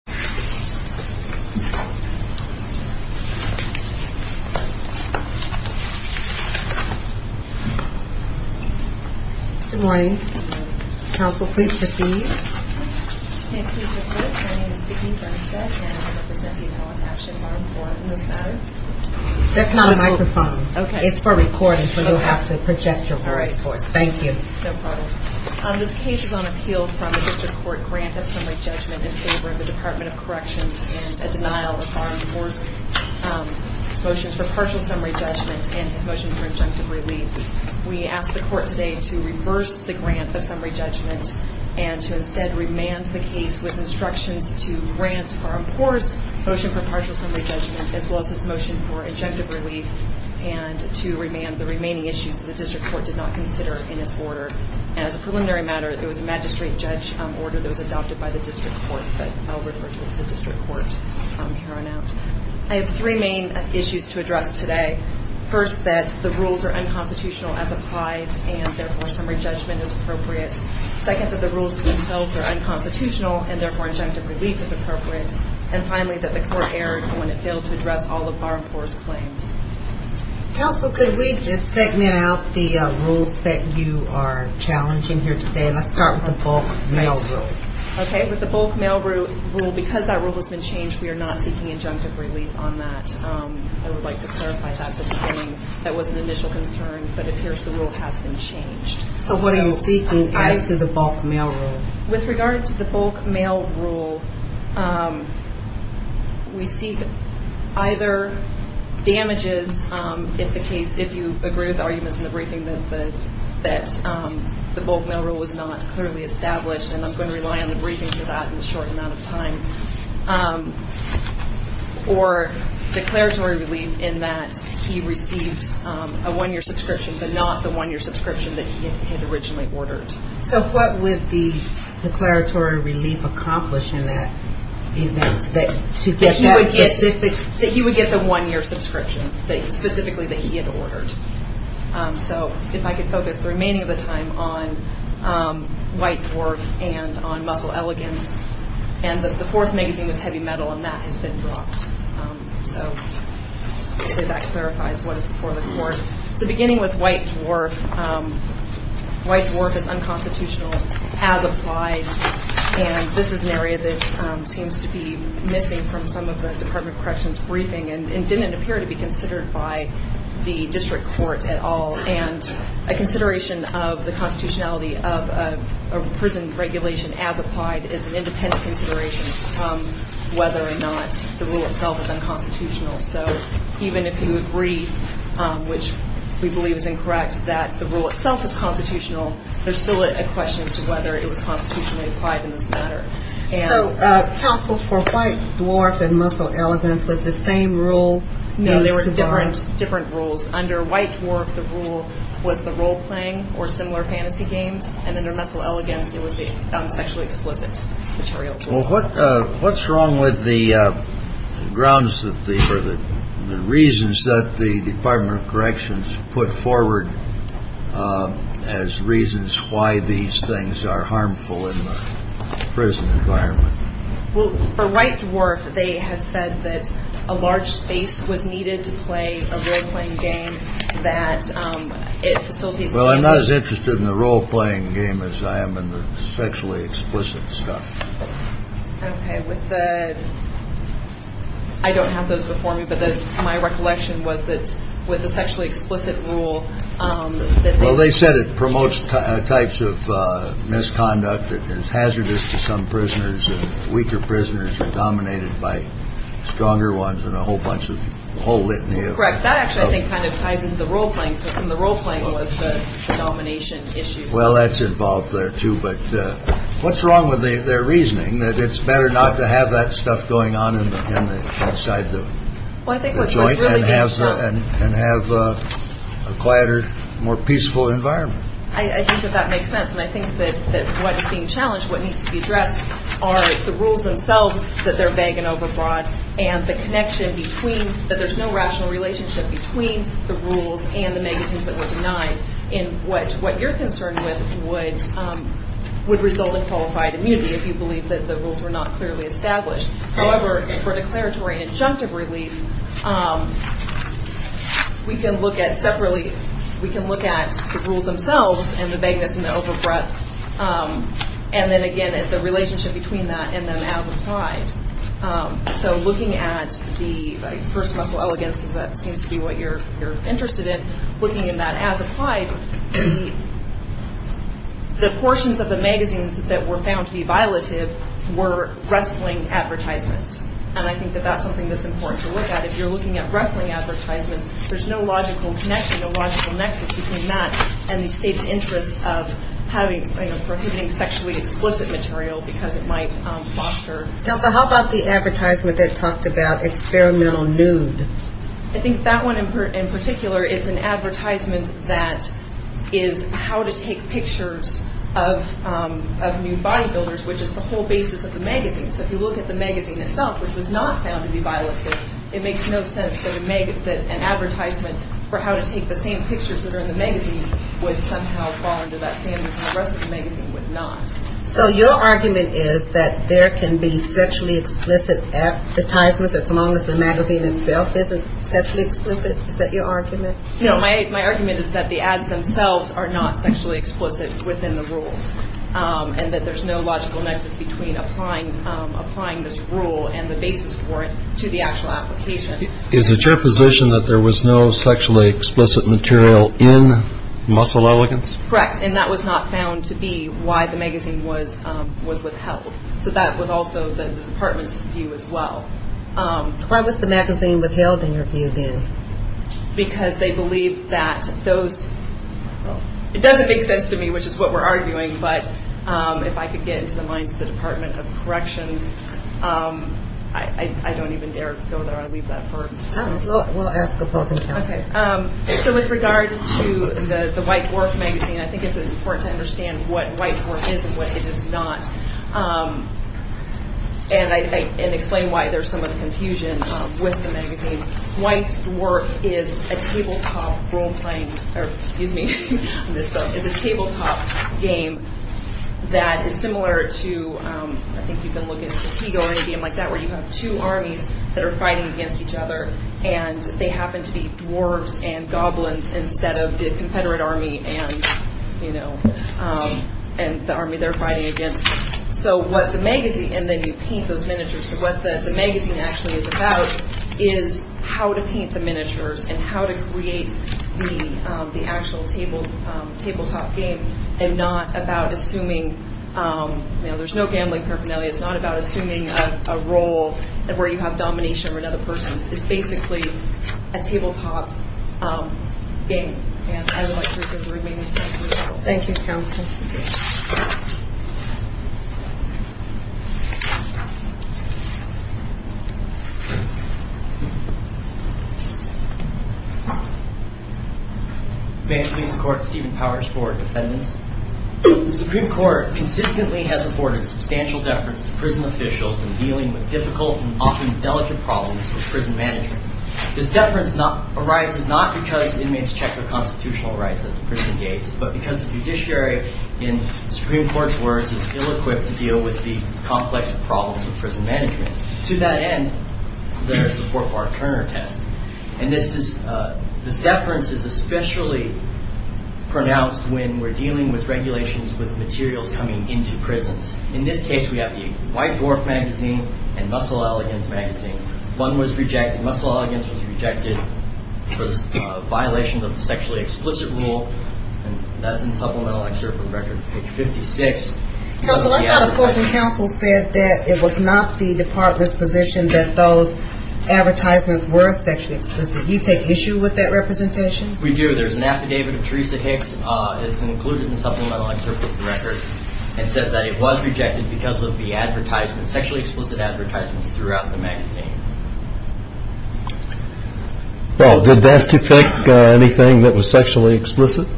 This case is on appeal from the District Court Grant of Summary Judgment in favor of the Department of Justice. and a denial of Bahrampour's motion for partial summary judgment and his motion for injunctive relief. We ask the Court today to reverse the grant of summary judgment and to instead remand the case with instructions to grant Bahrampour's motion for partial summary judgment as well as his motion for injunctive relief and to remand the remaining issues that the District Court did not consider in its order. As a preliminary matter, it was a magistrate judge order that was adopted by the District Court. I have three main issues to address today. First, that the rules are unconstitutional as applied and therefore summary judgment is appropriate. Second, that the rules themselves are unconstitutional and therefore injunctive relief is appropriate. And finally, that the Court erred when it failed to address all of Bahrampour's claims. Counsel, could we just segment out the rules that you are challenging here today? Let's start with the bulk mail rule. Okay, with the bulk mail rule, because that rule has been changed, we are not seeking injunctive relief on that. I would like to clarify that at the beginning. That was an initial concern, but it appears the rule has been changed. So what are you seeking as to the bulk mail rule? With regard to the bulk mail rule, we seek either damages if the case, if you agree with the arguments in the briefing that the bulk mail rule was not clearly established, and I'm going to rely on the briefing for that in a short amount of time, or declaratory relief in that he received a one-year subscription, but not the one-year subscription that he had originally ordered. So what would the declaratory relief accomplish in that event to get that specific? That he would get the one-year subscription, specifically that he had ordered. So if I could focus the remaining of the time on White Dwarf and on Muscle Elegance. And the fourth magazine was Heavy Metal, and that has been dropped. So that clarifies what is before the Court. So beginning with White Dwarf, White Dwarf is unconstitutional as applied, and this is an area that seems to be missing from some of the Department of Corrections' briefing and didn't appear to be considered by the district court at all. And a consideration of the constitutionality of a prison regulation as applied is an independent consideration whether or not the rule itself is unconstitutional. So even if you agree, which we believe is incorrect, that the rule itself is constitutional, there's still a question as to whether it was constitutionally applied in this matter. So counsel for White Dwarf and Muscle Elegance was the same rule? No, they were different rules. Under White Dwarf the rule was the role-playing or similar fantasy games, and under Muscle Elegance it was the sexually explicit material. Well, what's wrong with the grounds or the reasons that the Department of Corrections put forward as reasons why these things are harmful in the prison environment? Well, for White Dwarf they had said that a large space was needed to play a role-playing game. Well, I'm not as interested in the role-playing game as I am in the sexually explicit stuff. Okay. I don't have those before me, but my recollection was that with the sexually explicit rule that they – Well, they said it promotes types of misconduct that is hazardous to some prisoners and weaker prisoners are dominated by stronger ones and a whole bunch of – whole litany of – That's correct. That actually I think kind of ties into the role-playing system. The role-playing was the domination issue. Well, that's involved there too, but what's wrong with their reasoning that it's better not to have that stuff going on inside the joint and have a quieter, more peaceful environment? I think that that makes sense, and I think that what is being challenged, what needs to be addressed are the rules themselves, that they're vague and overbroad, and the connection between – that there's no rational relationship between the rules and the magazines that were denied in what you're concerned with would result in qualified immunity if you believe that the rules were not clearly established. However, for declaratory and injunctive relief, we can look at separately – we can look at the rules themselves and the vagueness and the overbroad, and then again at the relationship between that and them as applied. So looking at the first-muscle elegance, as that seems to be what you're interested in, looking at that as applied, the portions of the magazines that were found to be violative were wrestling advertisements, and I think that that's something that's important to look at. If you're looking at wrestling advertisements, there's no logical connection, no logical nexus between that and the stated interests of having – prohibiting sexually explicit material because it might foster – Counsel, how about the advertisement that talked about experimental nude? I think that one in particular, it's an advertisement that is how to take pictures of nude bodybuilders, which is the whole basis of the magazine. So if you look at the magazine itself, which was not found to be violative, it makes no sense that an advertisement for how to take the same pictures that are in the magazine would somehow fall under that standard, and the rest of the magazine would not. So your argument is that there can be sexually explicit advertisements as long as the magazine itself isn't sexually explicit? Is that your argument? No, my argument is that the ads themselves are not sexually explicit within the rules and that there's no logical nexus between applying this rule and the basis for it to the actual application. Is it your position that there was no sexually explicit material in Muscle Elegance? Correct, and that was not found to be why the magazine was withheld. So that was also the department's view as well. Why was the magazine withheld in your view, then? Because they believed that those – it doesn't make sense to me, which is what we're arguing, but if I could get into the minds of the Department of Corrections, I don't even dare go there. We'll ask opposing counsel. Okay, so with regard to the White Dwarf magazine, I think it's important to understand what White Dwarf is and what it is not and explain why there's some of the confusion with the magazine. White Dwarf is a tabletop role-playing – or, excuse me, I missed that. It's a tabletop game that is similar to – I think you can look at Stratego or a game like that where you have two armies that are fighting against each other and they happen to be dwarves and goblins instead of the Confederate army and the army they're fighting against. So what the magazine – and then you paint those miniatures. So what the magazine actually is about is how to paint the miniatures and how to create the actual tabletop game and not about assuming – there's no gambling paraphernalia. It's not about assuming a role where you have domination over another person. It's basically a tabletop game. And I would like to reserve the remaining time for that. Thank you, counsel. May I please support Stephen Powers for defendants? The Supreme Court consistently has afforded substantial deference to prison officials in dealing with difficult and often delicate problems with prison management. This deference arises not because inmates check their constitutional rights at the prison gates but because the judiciary, in the Supreme Court's words, is ill-equipped to deal with the complex problems of prison management. To that end, there's the Fort Barth Turner test. And this is – this deference is especially pronounced when we're dealing with regulations with materials coming into prisons. In this case, we have the White Dwarf magazine and Muscle Elegance magazine. One was rejected. Muscle Elegance was rejected for violations of the sexually explicit rule. And that's in the supplemental excerpt of the record. Page 56. Counsel, I thought, of course, when counsel said that it was not the department's position that those advertisements were sexually explicit, you take issue with that representation? We do. There's an affidavit of Teresa Hicks. It's included in the supplemental excerpt of the record. It says that it was rejected because of the advertisement, sexually explicit advertisements throughout the magazine. Well, did that depict anything that was sexually explicit?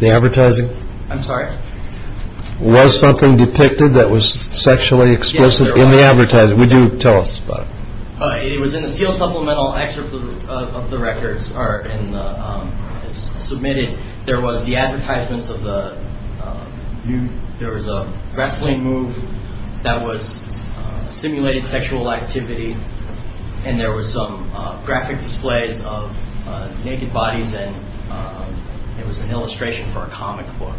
The advertising? I'm sorry? Was something depicted that was sexually explicit in the advertising? Yes, there was. Would you tell us about it? It was in the sealed supplemental excerpt of the records, or in the – there was a wrestling move that was simulated sexual activity, and there was some graphic displays of naked bodies, and it was an illustration for a comic book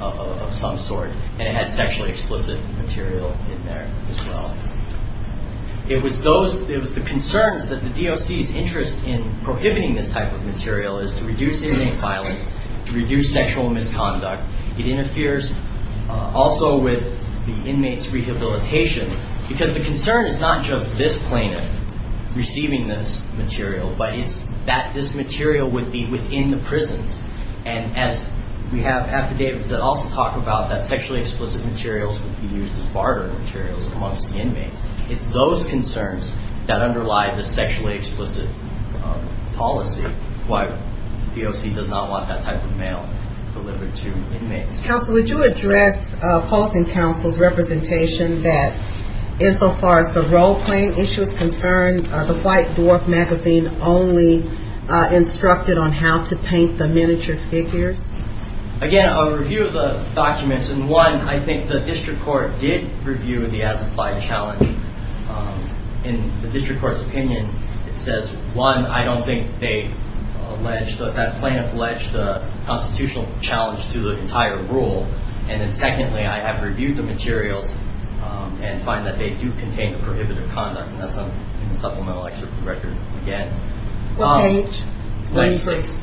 of some sort. And it had sexually explicit material in there as well. It was those – it was the concerns that the DOC's interest in prohibiting this type of material is to reduce inmate violence, to reduce sexual misconduct. It interferes also with the inmates' rehabilitation because the concern is not just this plaintiff receiving this material, but it's that this material would be within the prisons. And as we have affidavits that also talk about that sexually explicit materials would be used as barter materials amongst the inmates, it's those concerns that underlie the sexually explicit policy. The DOC does not want that type of mail delivered to inmates. Counsel, would you address Post and Counsel's representation that, insofar as the role-playing issue is concerned, the Flight Dwarf magazine only instructed on how to paint the miniature figures? Again, a review of the documents, and one, I think the district court did review the as-applied challenge. In the district court's opinion, it says, one, I don't think they allege – that plaintiff alleged a constitutional challenge to the entire rule. And then secondly, I have reviewed the materials and find that they do contain the prohibitive conduct. And that's in the supplemental excerpt of the record again. What page? 26.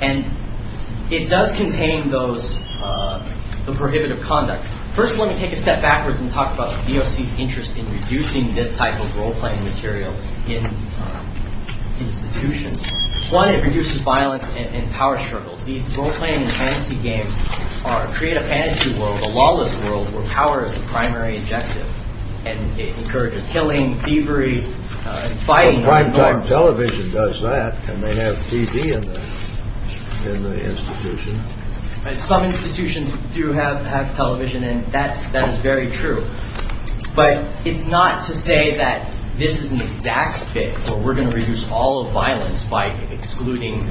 And it does contain those – the prohibitive conduct. First, let me take a step backwards and talk about the DOC's interest in reducing this type of role-playing material in institutions. One, it reduces violence and power struggles. These role-playing and fantasy games create a fantasy world, a lawless world, where power is the primary objective, and it encourages killing, thievery, fighting. But primetime television does that, and they have TV in the institution. Some institutions do have television, and that is very true. But it's not to say that this is an exact fit or we're going to reduce all of violence by excluding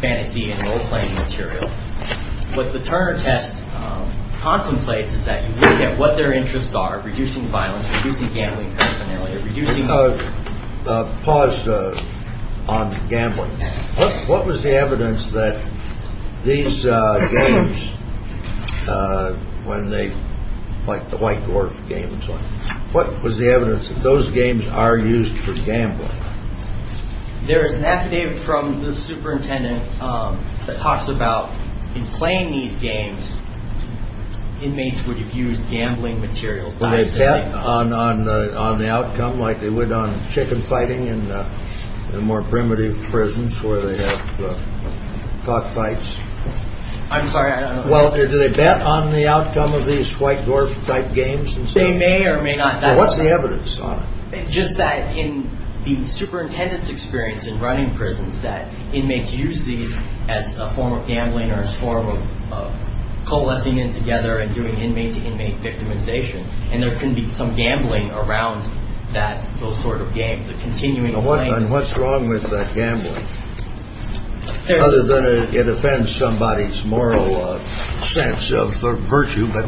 fantasy and role-playing material. What the Turner test contemplates is that you look at what their interests are, reducing violence, reducing gambling paraphernalia, reducing – Pause on gambling. What was the evidence that these games, like the white dwarf games, what was the evidence that those games are used for gambling? There is an affidavit from the superintendent that talks about in playing these games, inmates would have used gambling materials. Do they bet on the outcome like they would on chicken fighting in more primitive prisons where they have cockfights? I'm sorry, I don't know. Well, do they bet on the outcome of these white dwarf-type games? They may or may not. What's the evidence on it? Just that in the superintendent's experience in running prisons, that inmates use these as a form of gambling or a form of coalescing in together and doing inmate-to-inmate victimization. And there can be some gambling around those sort of games. What's wrong with that gambling? Other than it offends somebody's moral sense of virtue, but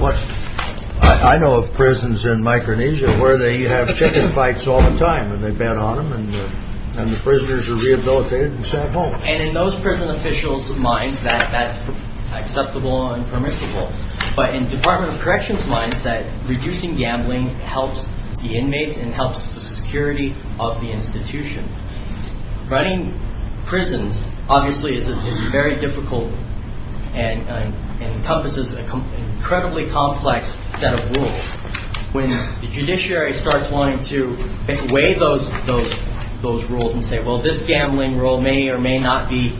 I know of prisons in Micronesia where they have chicken fights all the time and they bet on them and the prisoners are rehabilitated and sent home. And in those prison officials' minds, that's acceptable and permissible. But in Department of Corrections' minds, reducing gambling helps the inmates and helps the security of the institution. Running prisons, obviously, is very difficult and encompasses an incredibly complex set of rules. When the judiciary starts wanting to weigh those rules and say, well, this gambling rule may or may not be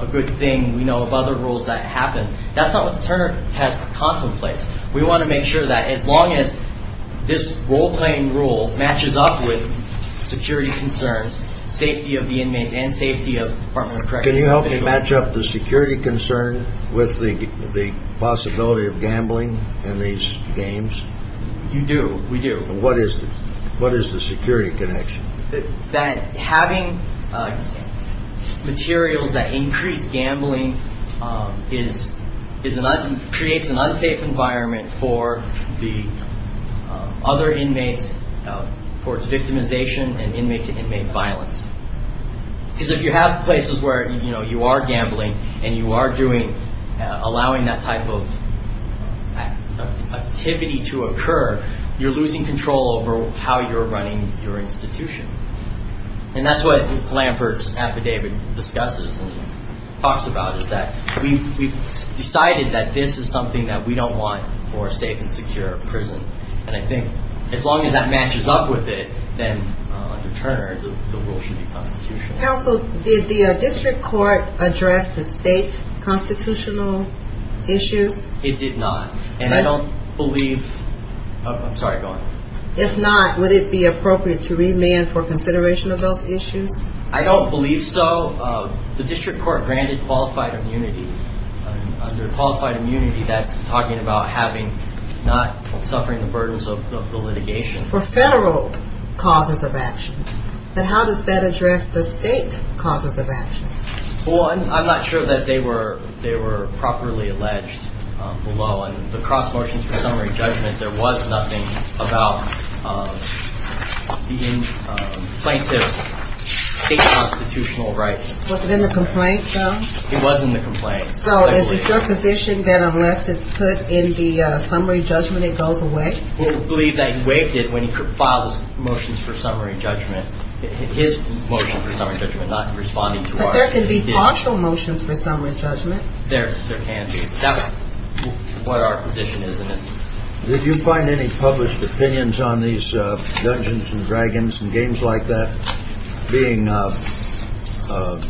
a good thing. We know of other rules that happen. That's not what the Turner test contemplates. We want to make sure that as long as this role-playing rule matches up with security concerns, safety of the inmates and safety of Department of Corrections officials. Can you help me match up the security concern with the possibility of gambling in these games? You do. We do. What is the security connection? That having materials that increase gambling creates an unsafe environment for the other inmates towards victimization and inmate-to-inmate violence. Because if you have places where you are gambling and you are allowing that type of activity to occur, you're losing control over how you're running your institution. And that's what Lambert's affidavit discusses and talks about, is that we've decided that this is something that we don't want for a safe and secure prison. And I think as long as that matches up with it, then under Turner, the rule should be constitutional. Counsel, did the district court address the state constitutional issues? It did not. And I don't believe – I'm sorry, go on. If not, would it be appropriate to remand for consideration of those issues? I don't believe so. The district court granted qualified immunity. Under qualified immunity, that's talking about not suffering the burdens of the litigation. For federal causes of action. And how does that address the state causes of action? Well, I'm not sure that they were properly alleged below. In the cross motions for summary judgment, there was nothing about the plaintiff's state constitutional rights. Was it in the complaint, though? It was in the complaint. So is it your position that unless it's put in the summary judgment, it goes away? We believe that he waived it when he filed his motions for summary judgment, his motion for summary judgment, not responding to our request. But there can be partial motions for summary judgment? There can be. That's what our position is in it. Did you find any published opinions on these Dungeons and Dragons and games like that being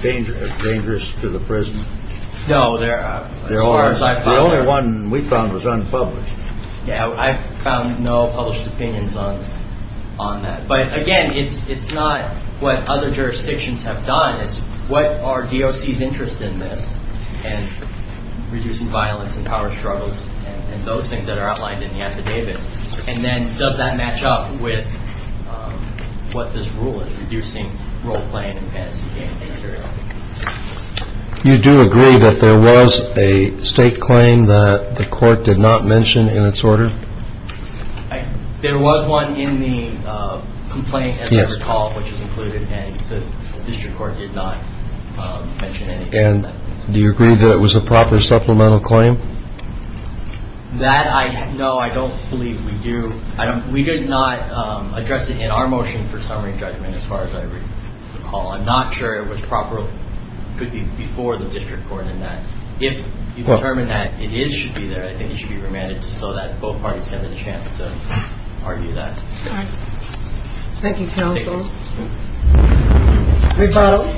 dangerous to the prison? No, as far as I found – The only one we found was unpublished. Yeah, I found no published opinions on that. But, again, it's not what other jurisdictions have done. It's what are DOC's interest in this and reducing violence and power struggles and those things that are outlined in the affidavit. And then does that match up with what this rule is, reducing role-playing and fantasy game material? You do agree that there was a state claim that the court did not mention in its order? There was one in the complaint, as I recall, which is included, and the district court did not mention it. And do you agree that it was a proper supplemental claim? That I – no, I don't believe we do. We did not address it in our motion for summary judgment, as far as I recall. I'm not sure it was proper – could be before the district court in that. If you determine that it is – should be there, I think it should be remanded so that both parties have a chance to argue that. All right. Thank you, counsel. Rebuttal.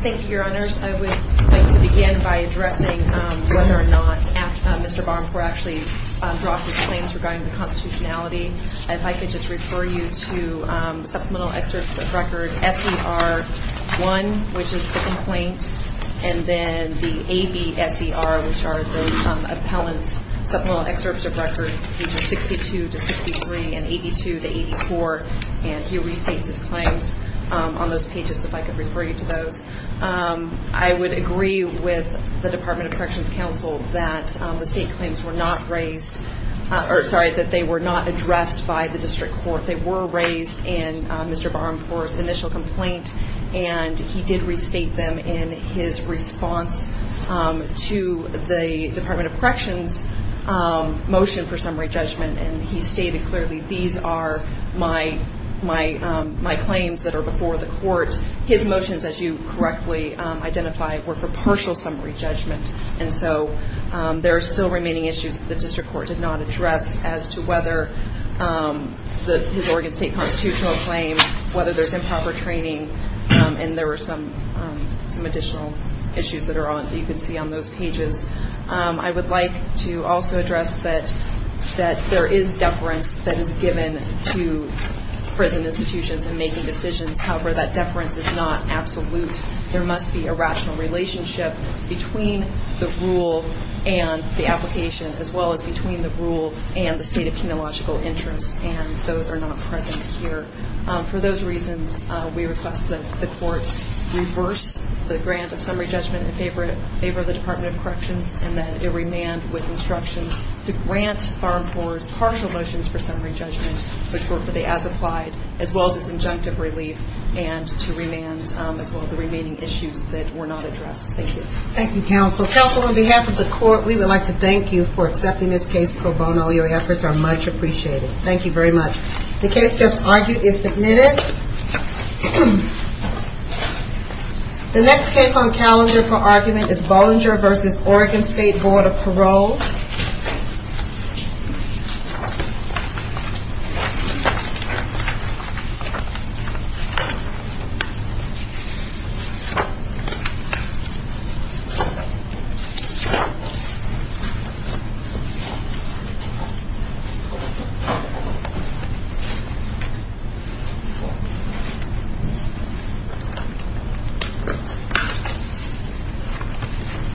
Thank you, Your Honors. I would like to begin by addressing whether or not Mr. Barncore actually dropped his claims regarding the constitutionality. If I could just refer you to Supplemental Excerpts of Record S.E.R. 1, which is the complaint, and then the A.B.S.E.R., which are the appellant's Supplemental Excerpts of Record, pages 62 to 63 and 82 to 84. And he restates his claims on those pages, if I could refer you to those. I would agree with the Department of Corrections counsel that the state claims were not raised – or, sorry, that they were not addressed by the district court. They were raised in Mr. Barncore's initial complaint, and he did restate them in his response to the Department of Corrections motion for summary judgment. And he stated clearly, these are my claims that are before the court. His motions, as you correctly identify, were for partial summary judgment. And so there are still remaining issues that the district court did not address as to whether his Oregon State constitutional claim, whether there's improper training, and there were some additional issues that you can see on those pages. I would like to also address that there is deference that is given to prison institutions in making decisions. However, that deference is not absolute. There must be a rational relationship between the rule and the application, as well as between the rule and the state of penological interest, and those are not present here. For those reasons, we request that the court reverse the grant of summary judgment in favor of the Department of Corrections and that it remand with instructions to grant Barncore's partial motions for summary judgment, but for the as-applied, as well as his injunctive relief, and to remand as well the remaining issues that were not addressed. Thank you. Thank you, counsel. Counsel, on behalf of the court, we would like to thank you for accepting this case pro bono. Your efforts are much appreciated. Thank you very much. The case just argued is submitted. The next case on calendar for argument is Bollinger v. Oregon State Board of Parole. Thank you.